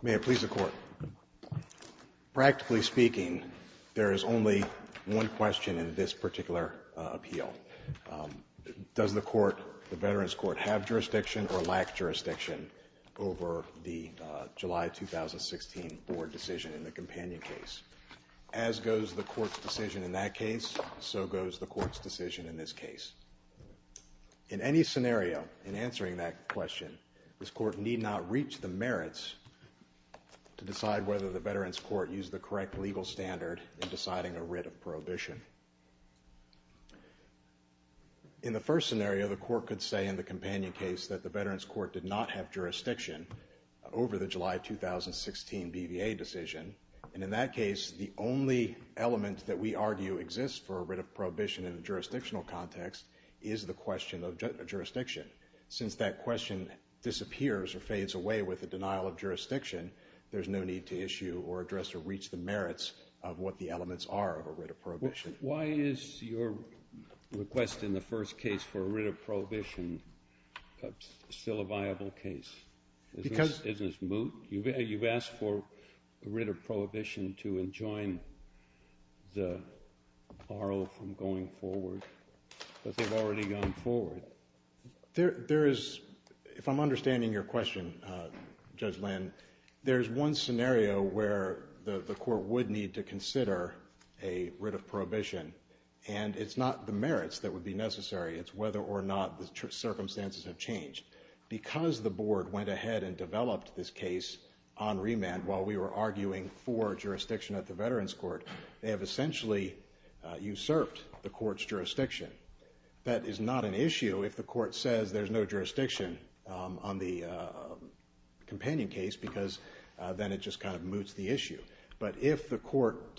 May I please the court? Practically speaking there is only one question in this particular appeal. Does the court the Veterans Court have jurisdiction or lack jurisdiction over the July 2016 board decision in the companion case? As goes the court's decision in that case so goes the court's decision in this case. In any scenario in answering that question this court need not reach the merits to decide whether the Veterans Court use the correct legal standard in deciding a writ of prohibition. In the first scenario the court could say in the companion case that the Veterans Court did not have jurisdiction over the July 2016 BVA decision and in that case the only element that we argue exists for a writ of prohibition in the jurisdictional context is the question of jurisdiction. Since that question disappears or fades away with a denial of jurisdiction there's no need to issue or address or reach the merits of what the elements are of a writ of prohibition. Why is your request in the first case for a writ of prohibition still a viable case? Because you've asked for a writ of prohibition to enjoin the R.O. from going forward but they've already gone forward. There is if I'm understanding your question Judge Lynn there's one scenario where the court would need to consider a writ of prohibition and it's not the merits that would be necessary it's whether or not the circumstances have changed. Because the board went ahead and developed this case on remand while we were arguing for jurisdiction at the Veterans Court they have essentially usurped the court's jurisdiction. That is not an issue if the court says there's no jurisdiction on the companion case because then it just kind of moots the issue. But if the court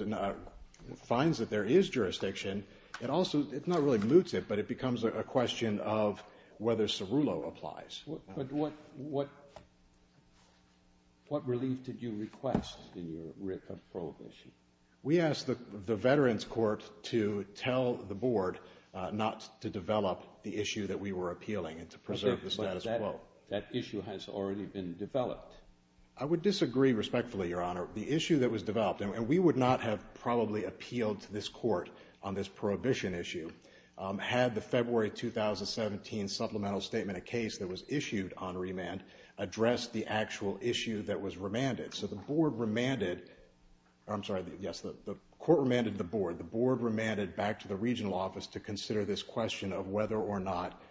finds that there is jurisdiction it also it's not really moots it but it becomes a question of whether Cerullo applies. What relief did you request in your writ of prohibition? We asked the Veterans Court to tell the board not to develop the issue that we were appealing and to preserve the status quo. That issue has already been developed. I would disagree respectfully your honor the issue that was developed and we would not have probably appealed to this court on this prohibition issue had the February 2017 supplemental statement a case that was issued on remand addressed the actual issue that was remanded. So the board remanded I'm sorry yes the court remanded the board the board remanded back to the regional office to consider this question of whether or not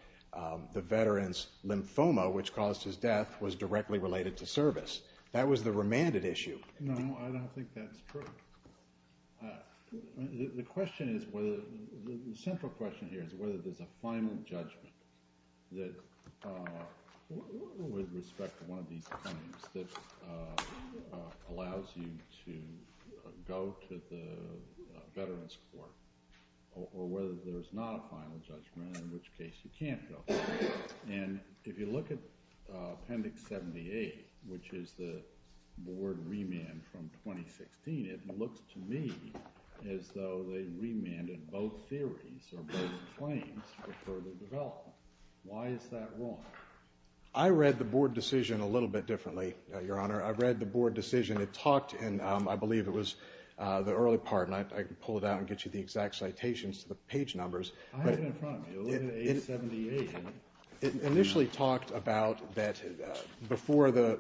the veterans lymphoma which caused his death was directly related to service. That was the remanded issue. No I don't think that's true. The question is whether the central question here is whether there's a final judgment that with respect to one of these claims allows you to go to the Veterans Court or whether there's not a final judgment in which case you can't go. And if you look at appendix 78 which is the board remand from 2016 it looks to me as though they remanded both theories or both claims for further development. Why is that wrong? I read the board decision a your honor I've read the board decision it talked and I believe it was the early part and I can pull it out and get you the exact citations to the page numbers it initially talked about that before the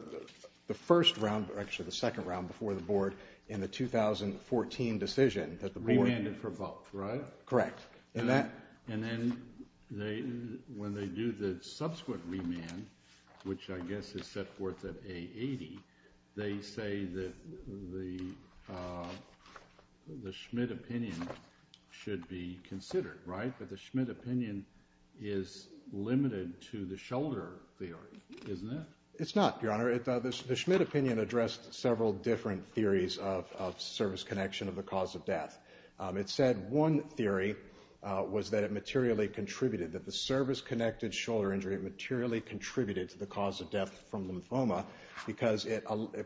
the first round actually the second round before the board in the 2014 decision. Remanded for both right? Correct. And that and then they when they do the subsequent remand which I guess is set forth at A80 they say that the Schmidt opinion should be considered right but the Schmidt opinion is limited to the shoulder theory isn't it? It's not your honor. The Schmidt opinion addressed several different theories of service connection of the cause of death. It said one theory was that it materially contributed that the service connected shoulder injury materially contributed to the cause of death from lymphoma because it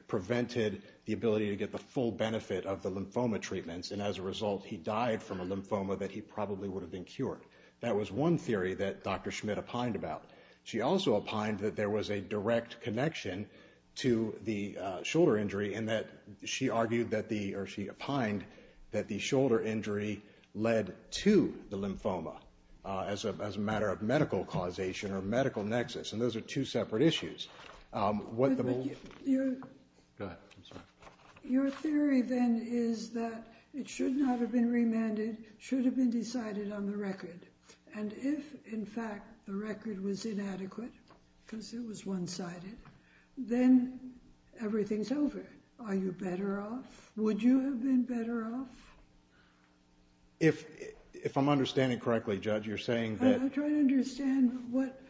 prevented the ability to get the full benefit of the lymphoma treatments and as a result he died from a lymphoma that he probably would have been cured. That was one theory that Dr. Schmidt opined about. She also opined that there was a direct connection to the shoulder injury and that she argued that the or she opined that the shoulder injury led to the lymphoma as a matter of medical causation or medical nexus and those are two separate issues. Your theory then is that it should not have been remanded should have been decided on the record and if in fact the record was inadequate because it was one-sided then everything's over. Are you better off? Would you have been better off? If I'm understanding correctly judge you're understand what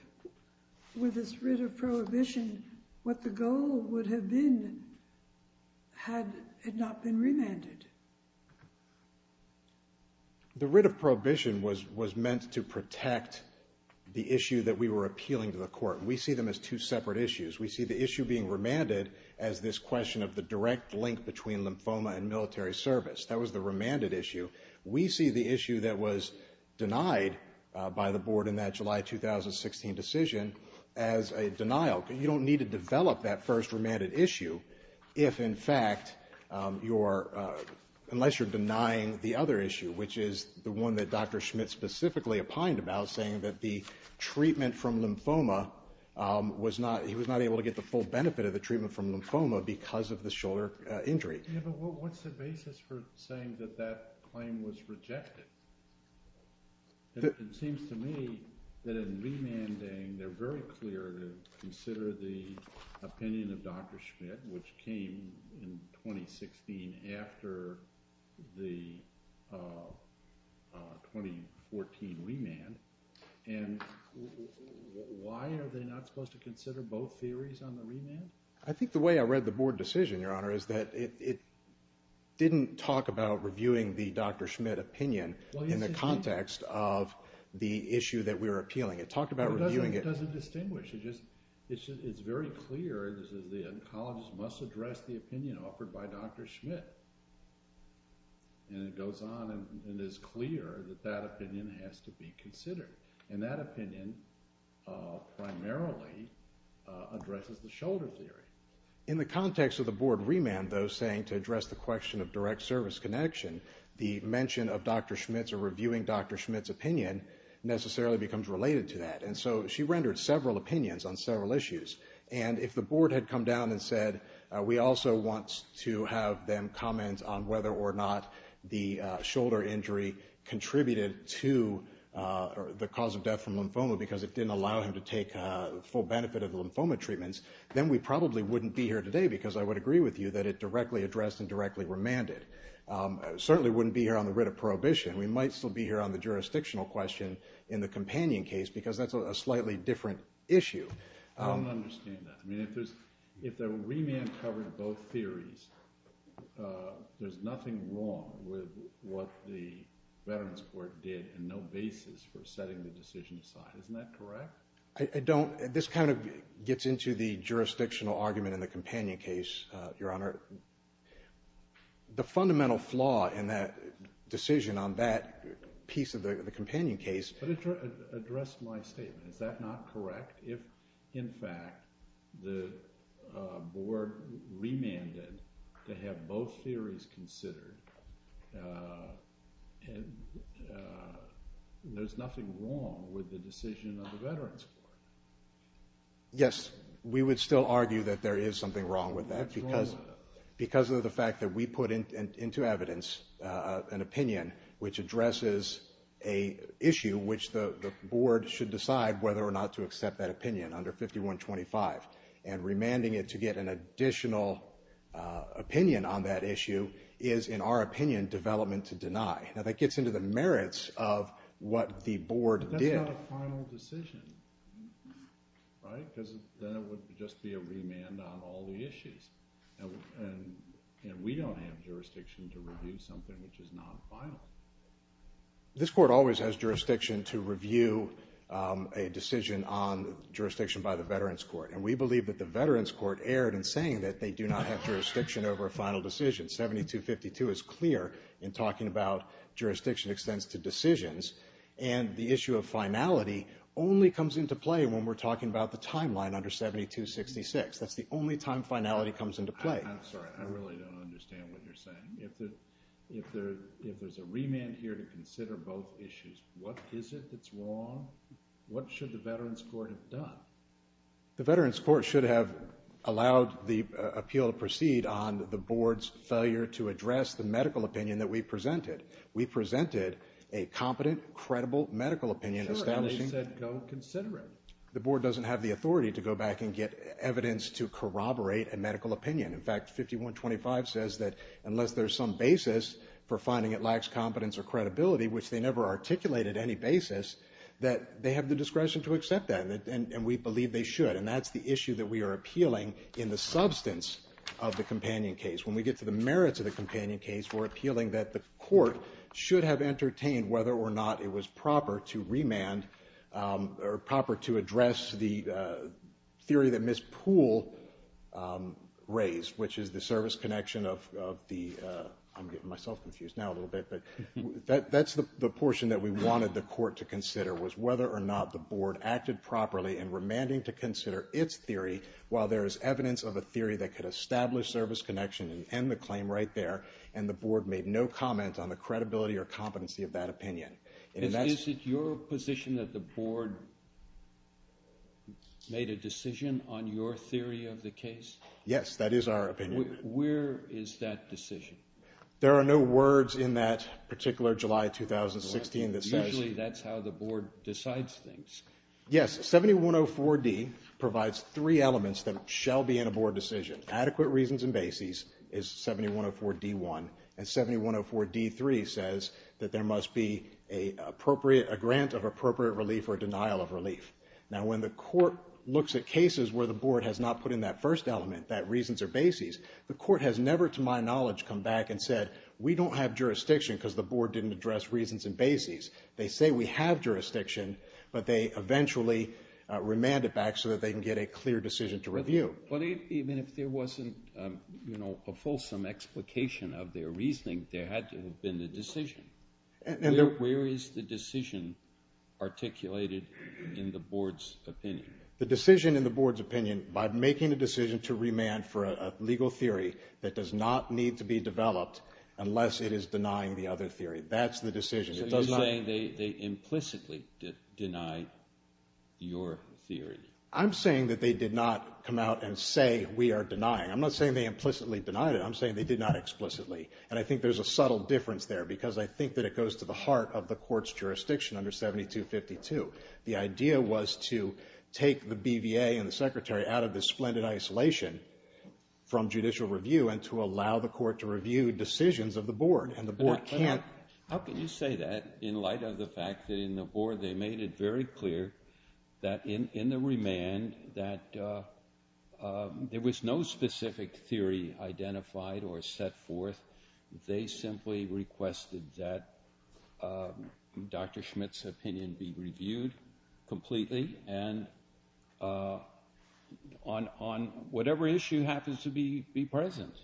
with this writ of prohibition what the goal would have been had it not been remanded. The writ of prohibition was was meant to protect the issue that we were appealing to the court. We see them as two separate issues. We see the issue being remanded as this question of the direct link between lymphoma and military service. That was the remanded issue. We see the issue that was denied by the board in that July 2016 decision as a denial. You don't need to develop that first remanded issue if in fact you're unless you're denying the other issue which is the one that Dr. Schmitt specifically opined about saying that the treatment from lymphoma was not he was not able to get the full benefit of the treatment from lymphoma because of the shoulder injury. What's the basis for saying that that claim was rejected? It seems to me that in remanding they're very clear to consider the opinion of Dr. Schmitt which came in 2016 after the 2014 remand and why are they not supposed to consider both theories on the remand? I think the way I read the board decision your honor is that it didn't talk about reviewing the Dr. Schmitt opinion in the context of the issue that we were appealing. It talked about reviewing it. It doesn't distinguish. It's very clear that the oncologist must address the opinion offered by Dr. Schmitt and it goes on and it is clear that that opinion has to be considered and that opinion primarily addresses the shoulder injury. In the context of the board remand though saying to address the question of direct service connection the mention of Dr. Schmitt's or reviewing Dr. Schmitt's opinion necessarily becomes related to that and so she rendered several opinions on several issues and if the board had come down and said we also want to have them comment on whether or not the shoulder injury contributed to the cause of death from lymphoma because it didn't allow him to take full benefit of the lymphoma treatments then we probably wouldn't be here today because I would agree with you that it directly addressed and directly remanded. Certainly wouldn't be here on the writ of prohibition. We might still be here on the jurisdictional question in the companion case because that's a slightly different issue. I don't understand that. I mean if there's if the remand covered both theories there's nothing wrong with what the Veterans Court did and no basis for I don't this kind of gets into the jurisdictional argument in the companion case your honor the fundamental flaw in that decision on that piece of the companion case. But it addressed my statement. Is that not correct? If in fact the board remanded to have both theories considered and there's nothing wrong with the decision of the Veterans Court. Yes we would still argue that there is something wrong with that because because of the fact that we put in into evidence an opinion which addresses a issue which the board should decide whether or not to accept that opinion under 5125 and remanding it to get an additional opinion on that issue is in our opinion development to deny. Now that is not a final decision. Right? Because then it would just be a remand on all the issues. And we don't have jurisdiction to review something which is not final. This court always has jurisdiction to review a decision on jurisdiction by the Veterans Court and we believe that the Veterans Court erred in saying that they do not have jurisdiction over a final decision. 7252 is clear in talking about jurisdiction extends to decisions and the issue of finality only comes into play when we're talking about the timeline under 7266. That's the only time finality comes into play. I'm sorry, I really don't understand what you're saying. If there's a remand here to consider both issues, what is it that's wrong? What should the Veterans Court have done? The Veterans Court should have allowed the appeal to proceed on the board's request to address the medical opinion that we presented. We presented a competent, credible medical opinion. The board doesn't have the authority to go back and get evidence to corroborate a medical opinion. In fact, 5125 says that unless there's some basis for finding it lacks competence or credibility, which they never articulated any basis, that they have the discretion to accept that. And we believe they should. And that's the issue that we are appealing in the substance of the companion case. When we get to the merits of the companion case, we're appealing that the court should have entertained whether or not it was proper to remand, or proper to address the theory that Ms. Poole raised, which is the service connection of the, I'm getting myself confused now a little bit, but that's the portion that we wanted the court to consider, was whether or not the board acted properly in remanding to consider its theory while there is evidence of a theory that could establish service connection in the case. And the board made no comment on the credibility or competency of that opinion. Is it your position that the board made a decision on your theory of the case? Yes, that is our opinion. Where is that decision? There are no words in that particular July 2016 that says... Usually that's how the board decides things. Yes, 7104D provides three elements that shall be in a board decision. Adequate reasons and bases is 7104D1. And 7104D3 says that there must be a grant of appropriate relief or denial of relief. Now, when the court looks at cases where the board has not put in that first element, that reasons or bases, the court has never, to my knowledge, come back and said, we don't have jurisdiction because the board didn't address reasons and bases. They say we have jurisdiction, but they eventually remand it back so that they can get a clear decision to review. But even if there wasn't a fulsome explication of their reasoning, there had to have been a decision. Where is the decision articulated in the board's opinion? The decision in the board's opinion, by making a decision to remand for a legal theory that does not need to be developed unless it is denying the other theory, that's the decision. So you're saying they implicitly denied your theory. I'm saying that they did not come out and say we are denying. I'm not saying they implicitly denied it. I'm saying they did not explicitly. And I think there's a subtle difference there because I think that it goes to the heart of the court's jurisdiction under 7252. The idea was to take the BVA and the secretary out of this splendid isolation from judicial review and to allow the court to review decisions of the board. How can you say that in light of the fact that in the board they made it very clear that in the remand that there was no specific theory identified or set forth. They simply requested that Dr. Schmitt's opinion be reviewed completely and on whatever issue happens to be present.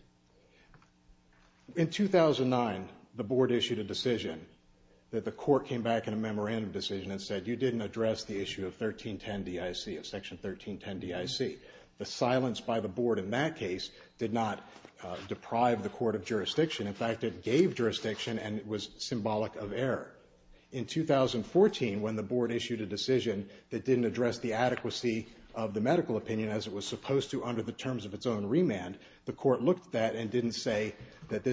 In 2009, the board issued a decision that the court came back in a memorandum decision and said you didn't address the issue of section 1310 DIC. The silence by the board in that case did not deprive the court of jurisdiction. In fact, it gave jurisdiction and it was symbolic of error. In 2014, when the board issued a decision that didn't address the adequacy of the medical opinion as it was supposed to under the terms of its own remand, the court looked at that and didn't say that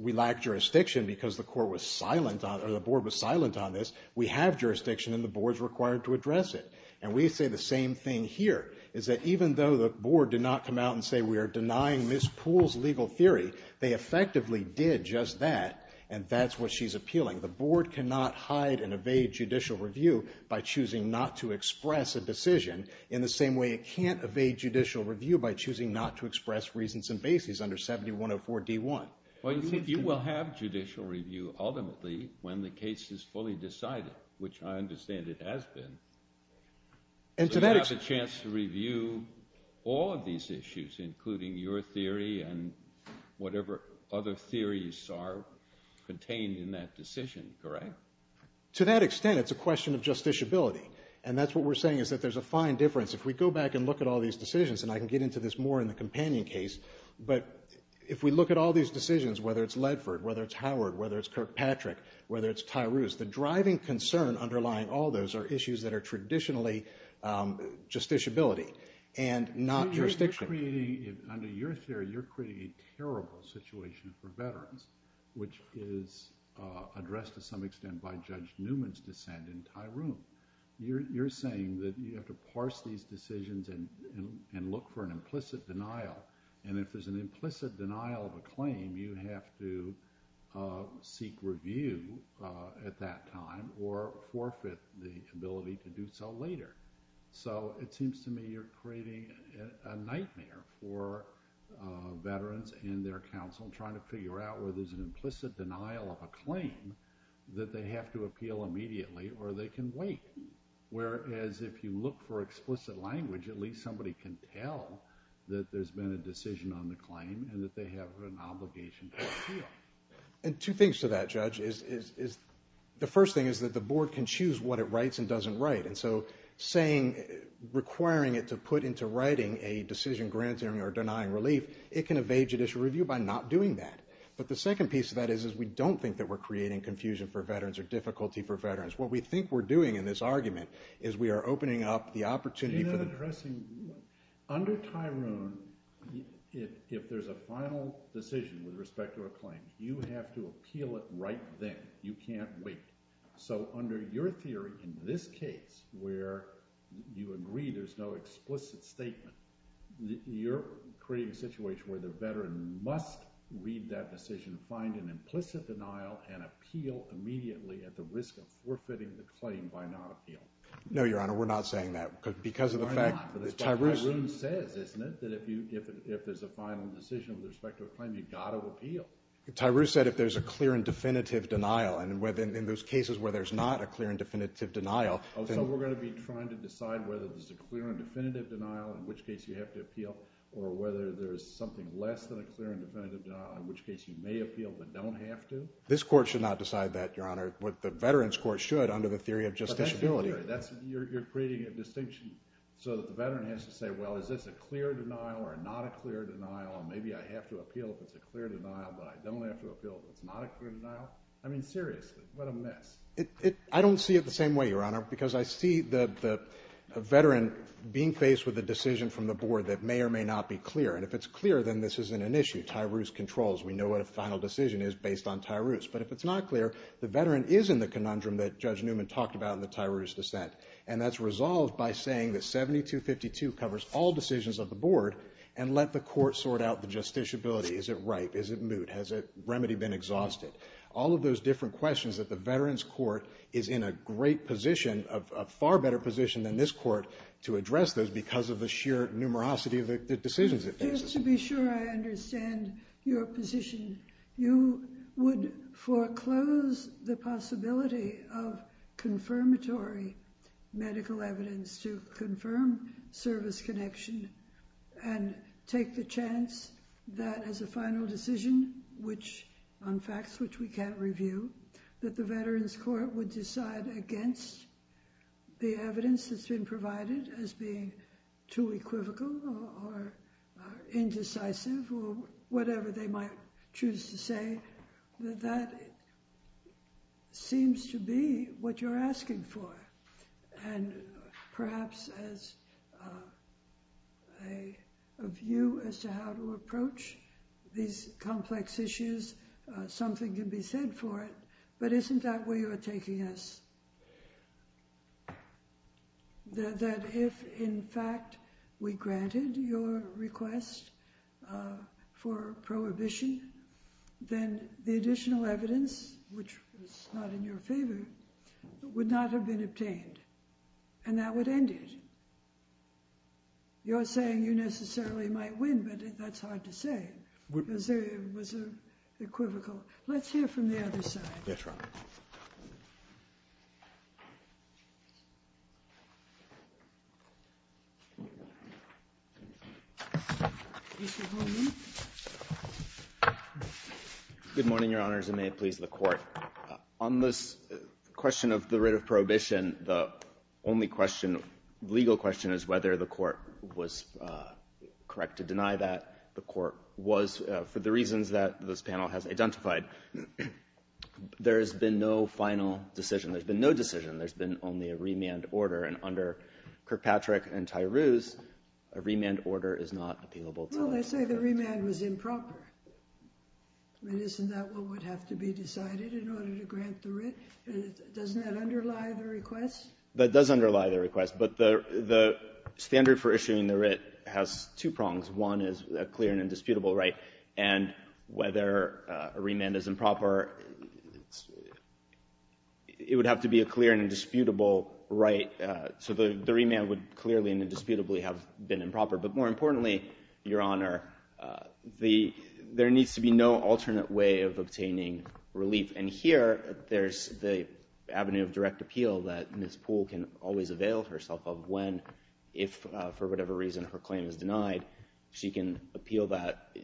we lack jurisdiction because the board was silent on this. We have jurisdiction and the board is required to address it. And we say the same thing here is that even though the board did not come out and say we are denying Ms. Poole's legal theory, they effectively did just that and that's what she's appealing. The board cannot hide and evade judicial review by choosing not to express a decision in the same way it can't evade judicial review by choosing not to express reasons and bases under 7104 D1. Well, you will have judicial review ultimately when the case is fully decided, which I understand it has been. You have a chance to review all of these issues, including your theory and whatever other theories are contained in that decision, correct? To that extent, it's a question of justiciability and that's what we're saying is that there's a fine difference. If we go back and look at all these decisions, and I can get into this more in the companion case, but if we look at all these decisions, whether it's Ledford, whether it's Howard, whether it's Kirkpatrick, whether it's Tyrus, the driving concern underlying all those are issues that are traditionally justiciability and not jurisdiction. Under your theory, you're creating a terrible situation for veterans, which is addressed to some extent by Judge Newman's dissent in Tyrone. You're saying that you have to parse these decisions and look for an implicit denial, and if there's an implicit denial of a claim, you have to seek review at that time or forfeit the ability to do so later. So it seems to me you're creating a nightmare for veterans and their counsel trying to figure out whether there's an implicit denial of a claim that they have to appeal immediately or they can wait. Whereas if you look for explicit language, at least somebody can tell that there's been a decision on the claim and that they have an obligation to appeal. And two things to that, Judge. The first thing is that the board can choose what it writes and doesn't write, and so requiring it to put into writing a decision granting or denying relief, it can evade judicial review by not doing that. But the second piece of that is we don't think that we're creating confusion for veterans or difficulty for veterans. What we think we're doing in this argument is we are opening up the opportunity for the- You're not addressing- under Tyrone, if there's a final decision with respect to a claim, you have to appeal it right then. You can't wait. So under your theory in this case where you agree there's no explicit statement, you're creating a situation where the veteran must read that decision, find an implicit denial, and appeal immediately at the risk of forfeiting the claim by not appealing. No, Your Honor, we're not saying that because of the fact that Tyrone- We're not, but that's what Tyrone says, isn't it? That if there's a final decision with respect to a claim, you've got to appeal. Tyrone said if there's a clear and definitive denial, and in those cases where there's not a clear and definitive denial- Oh, so we're going to be trying to decide whether there's a clear and definitive denial, in which case you have to appeal, or whether there's something less than a clear and definitive denial, in which case you may appeal but don't have to? This Court should not decide that, Your Honor. The Veterans Court should under the theory of justiciability. But that's your theory. You're creating a distinction so that the veteran has to say, well, is this a clear denial or not a clear denial, and maybe I have to appeal if it's a clear denial, but I don't have to appeal if it's not a clear denial? I mean, seriously, what a mess. I don't see it the same way, Your Honor, because I see the veteran being faced with a decision from the board that may or may not be clear, and if it's clear, then this isn't an issue. We know what a final decision is based on TIRUS, but if it's not clear, the veteran is in the conundrum that Judge Newman talked about in the TIRUS dissent, and that's resolved by saying that 7252 covers all decisions of the board and let the court sort out the justiciability. Is it ripe? Is it moot? Has the remedy been exhausted? All of those different questions that the Veterans Court is in a great position, a far better position than this Court to address those because of the sheer numerosity of the decisions it faces. Just to be sure I understand your position, you would foreclose the possibility of confirmatory medical evidence to confirm service connection and take the chance that as a final decision, which on facts which we can't review, that the Veterans Court would decide against the evidence that's been provided as being too equivocal or indecisive or whatever they might choose to say, that that seems to be what you're asking for, and perhaps as a view as to how to approach these complex issues, something can be said for it, but isn't that where you're taking us? That if, in fact, we granted your request for prohibition, then the additional evidence, which was not in your favor, would not have been obtained, and that would end it. You're saying you necessarily might win, but that's hard to say. It was equivocal. Let's hear from the other side. Yes, Your Honor. Good morning, Your Honors, and may it please the Court. On this question of the writ of prohibition, the only legal question is whether the Court was correct to deny that. The Court was for the reasons that this panel has identified. There has been no final decision. There's been no decision. There's been only a remand order, and under Kirkpatrick and Tyrous, a remand order is not appealable to us. Well, they say the remand was improper. Isn't that what would have to be decided in order to grant the writ? Doesn't that underlie the request? That does underlie the request, but the standard for issuing the writ has two prongs. One is a clear and indisputable right, and whether a remand is improper, it would have to be a clear and indisputable right, so the remand would clearly and indisputably have been improper. But more importantly, Your Honor, there needs to be no alternate way of obtaining relief, and here there's the avenue of direct appeal that Ms. Poole can always avail herself of when if, for whatever reason, her claim is denied, she can appeal that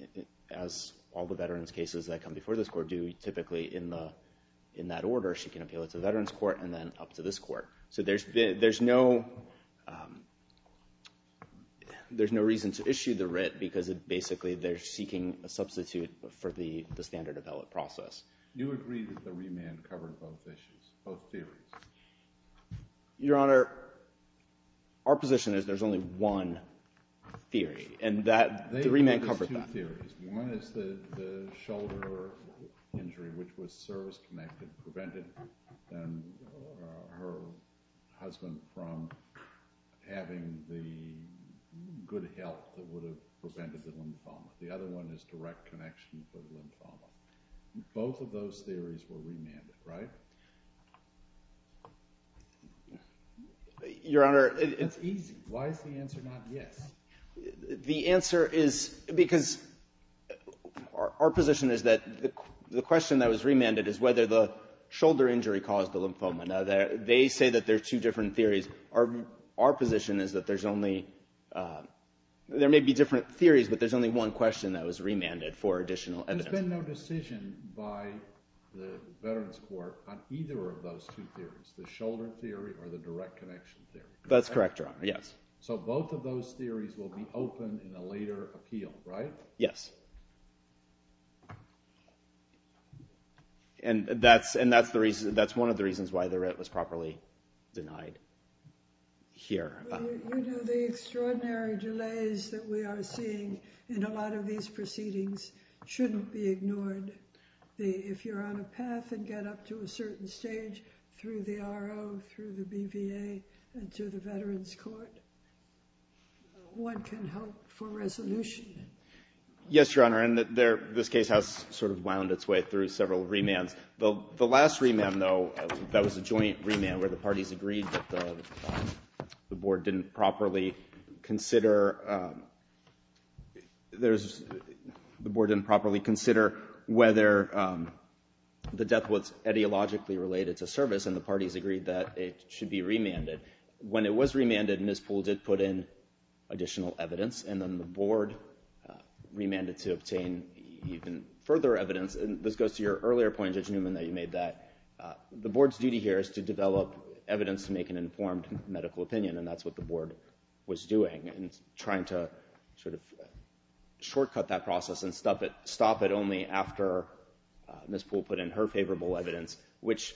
as all the veterans' cases that come before this Court do typically in that order. She can appeal it to the Veterans Court and then up to this Court. So there's no reason to issue the writ because basically they're seeking a substitute for the standard development process. Do you agree that the remand covered both issues, both theories? Your Honor, our position is there's only one theory, and the remand covered that. There are two theories. One is the shoulder injury, which was service-connected, prevented her husband from having the good health that would have prevented the lymphoma. The other one is direct connection for the lymphoma. Both of those theories were remanded, right? Your Honor, it's easy. Why is the answer not yes? The answer is because our position is that the question that was remanded is whether the shoulder injury caused the lymphoma. Now, they say that there are two different theories. Our position is that there's only – there may be different theories, but there's only one question that was remanded for additional evidence. There's been no decision by the Veterans Court on either of those two theories, the shoulder theory or the direct connection theory. That's correct, Your Honor, yes. So both of those theories will be open in a later appeal, right? Yes. And that's one of the reasons why the writ was properly denied here. You know, the extraordinary delays that we are seeing in a lot of these proceedings shouldn't be ignored. If you're on a path and get up to a certain stage through the RO, through the BVA, and through the Veterans Court, one can hope for resolution. Yes, Your Honor, and this case has sort of wound its way through several remands. The last remand, though, that was a joint remand where the parties agreed that the board didn't properly consider – the board didn't properly consider whether the death was etiologically related to service, and the parties agreed that it should be remanded. When it was remanded, NISPOL did put in additional evidence, and then the board remanded to obtain even further evidence. And this goes to your earlier point, Judge Newman, that you made that the board's duty here is to develop evidence to make an informed medical opinion, and that's what the board was doing, and trying to sort of shortcut that process and stop it only after Ms. Poole put in her favorable evidence, which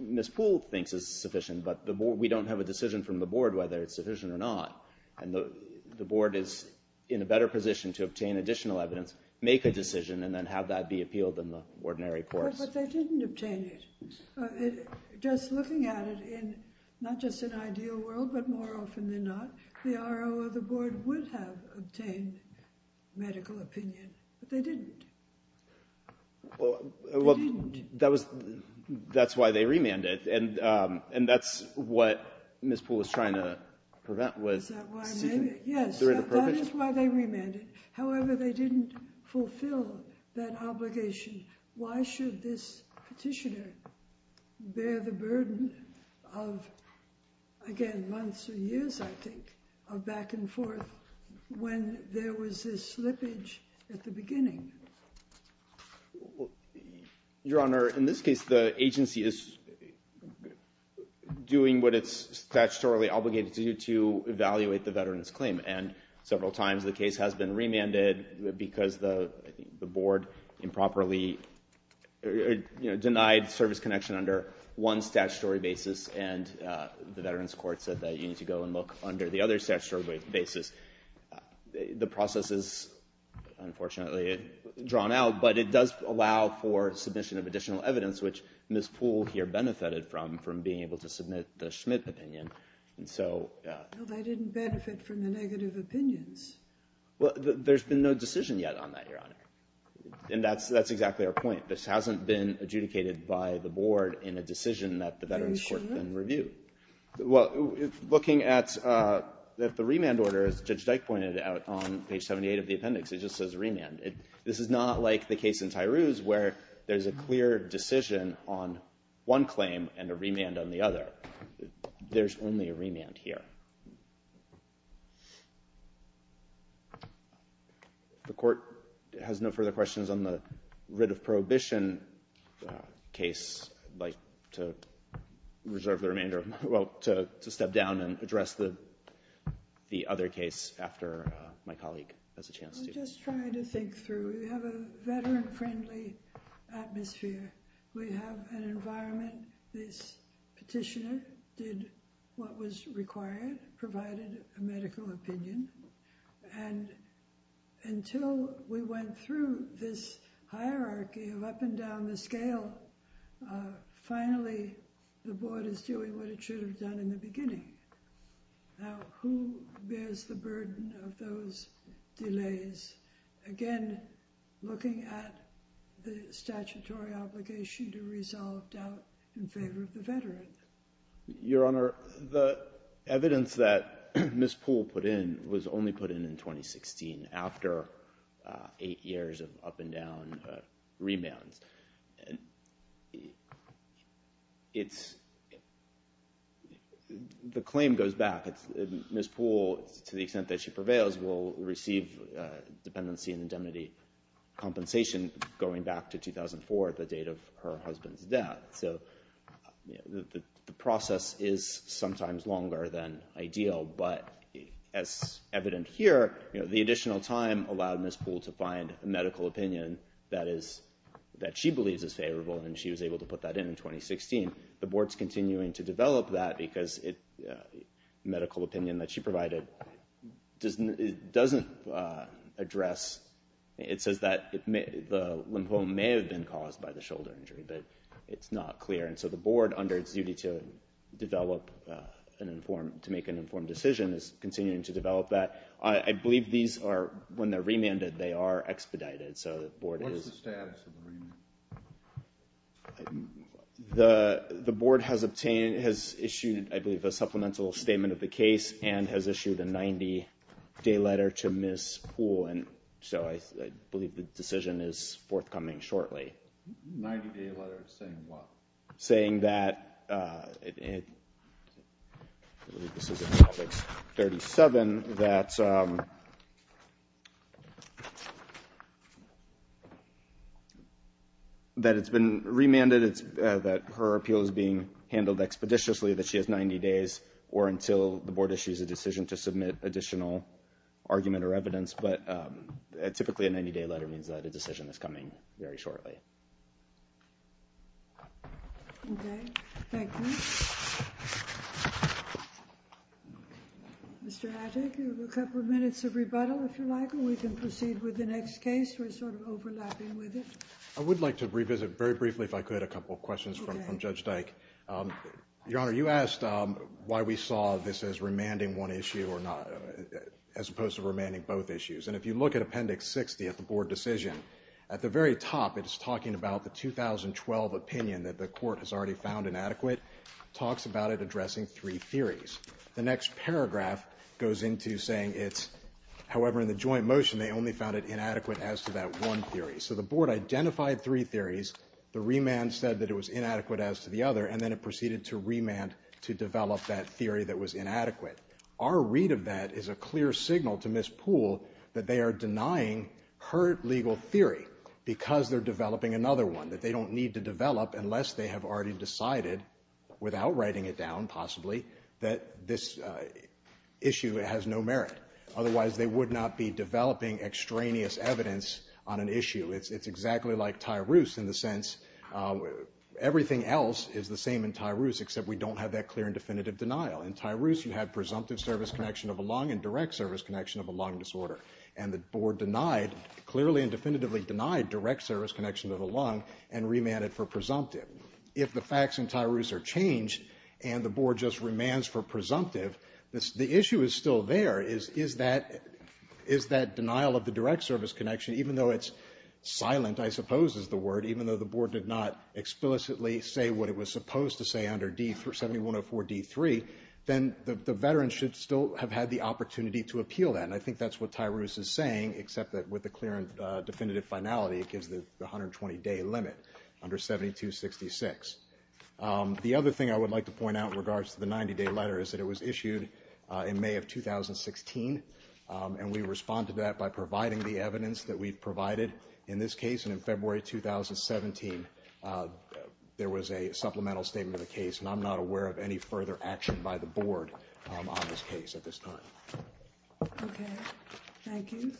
Ms. Poole thinks is sufficient, but we don't have a decision from the board whether it's sufficient or not. And the board is in a better position to obtain additional evidence, make a decision, and then have that be appealed in the ordinary courts. But they didn't obtain it. Just looking at it in not just an ideal world, but more often than not, the R.O. of the board would have obtained medical opinion, but they didn't. They didn't. That's why they remanded, and that's what Ms. Poole was trying to prevent. Is that why they remanded? Yes, that is why they remanded. However, they didn't fulfill that obligation. Why should this petitioner bear the burden of, again, months or years, I think, of back and forth when there was this slippage at the beginning? Your Honor, in this case, the agency is doing what it's statutorily obligated to do, to evaluate the veteran's claim, and several times the case has been remanded because the board improperly denied service connection under one statutory basis, and the veterans court said that you need to go and look under the other statutory basis. The process is unfortunately drawn out, but it does allow for submission of additional evidence, which Ms. Poole here benefited from, from being able to submit the Schmidt opinion. Well, they didn't benefit from the negative opinions. Well, there's been no decision yet on that, Your Honor, and that's exactly our point. This hasn't been adjudicated by the board in a decision that the veterans court then reviewed. Well, looking at the remand order, as Judge Dyke pointed out on page 78 of the appendix, it just says remand. This is not like the case in Tyrouse where there's a clear decision on one claim and a remand on the other. There's only a remand here. The court has no further questions on the writ of prohibition case. I'd like to reserve the remainder, well, to step down and address the other case after my colleague has a chance to. I'm just trying to think through. We have a veteran-friendly atmosphere. We have an environment. This petitioner did what was required, provided a medical opinion, and until we went through this hierarchy of up and down the scale, finally the board is doing what it should have done in the beginning. Now, who bears the burden of those delays? Again, looking at the statutory obligation to resolve doubt in favor of the veteran. Your Honor, the evidence that Ms. Poole put in was only put in in 2016 after eight years of up and down remands. The claim goes back. Ms. Poole, to the extent that she prevails, will receive dependency and indemnity compensation going back to 2004, the date of her husband's death. The process is sometimes longer than ideal, but as evident here, the additional time allowed Ms. Poole to find a medical opinion that she believes is favorable, and she was able to put that in in 2016. The board's continuing to develop that because the medical opinion that she provided doesn't address, it says that the lymphoma may have been caused by the shoulder injury, but it's not clear. And so the board, under its duty to make an informed decision, is continuing to develop that. I believe when they're remanded, they are expedited. What's the status of the remand? The board has obtained, has issued, I believe, a supplemental statement of the case and has issued a 90-day letter to Ms. Poole, and so I believe the decision is forthcoming shortly. 90-day letter saying what? That it's been remanded, that her appeal is being handled expeditiously, that she has 90 days, or until the board issues a decision to submit additional argument or evidence, but typically a 90-day letter means that a decision is coming very shortly. Okay. Thank you. Mr. Hattick, you have a couple of minutes of rebuttal, if you like, and we can proceed with the next case. We're sort of overlapping with it. I would like to revisit very briefly, if I could, a couple of questions from Judge Dyke. Your Honor, you asked why we saw this as remanding one issue as opposed to remanding both issues, and if you look at Appendix 60 of the board decision, at the very top it is talking about the 2012 opinion that the court has already found inadequate, talks about it addressing three theories. The next paragraph goes into saying it's, however, in the joint motion, they only found it inadequate as to that one theory. So the board identified three theories. The remand said that it was inadequate as to the other, and then it proceeded to remand to develop that theory that was inadequate. Our read of that is a clear signal to Ms. Poole that they are denying her legal theory because they're developing another one that they don't need to develop unless they have already decided, without writing it down, possibly, that this issue has no merit. Otherwise, they would not be developing extraneous evidence on an issue. It's exactly like Tyroos in the sense everything else is the same in Tyroos, except we don't have that clear and definitive denial. In Tyroos, you have presumptive service connection of a lung and direct service connection of a lung disorder, and the board denied, clearly and definitively denied, direct service connection of a lung and remanded for presumptive. If the facts in Tyroos are changed and the board just remands for presumptive, the issue is still there, is that denial of the direct service connection, even though it's silent, I suppose, is the word, even though the board did not explicitly say what it was supposed to say under 7104D3, then the veterans should still have had the opportunity to appeal that, except that with the clear and definitive finality, it gives the 120-day limit under 7266. The other thing I would like to point out in regards to the 90-day letter is that it was issued in May of 2016, and we responded to that by providing the evidence that we've provided in this case. In February 2017, there was a supplemental statement of the case, and I'm not aware of any further action by the board on this case at this time. Okay. Thank you.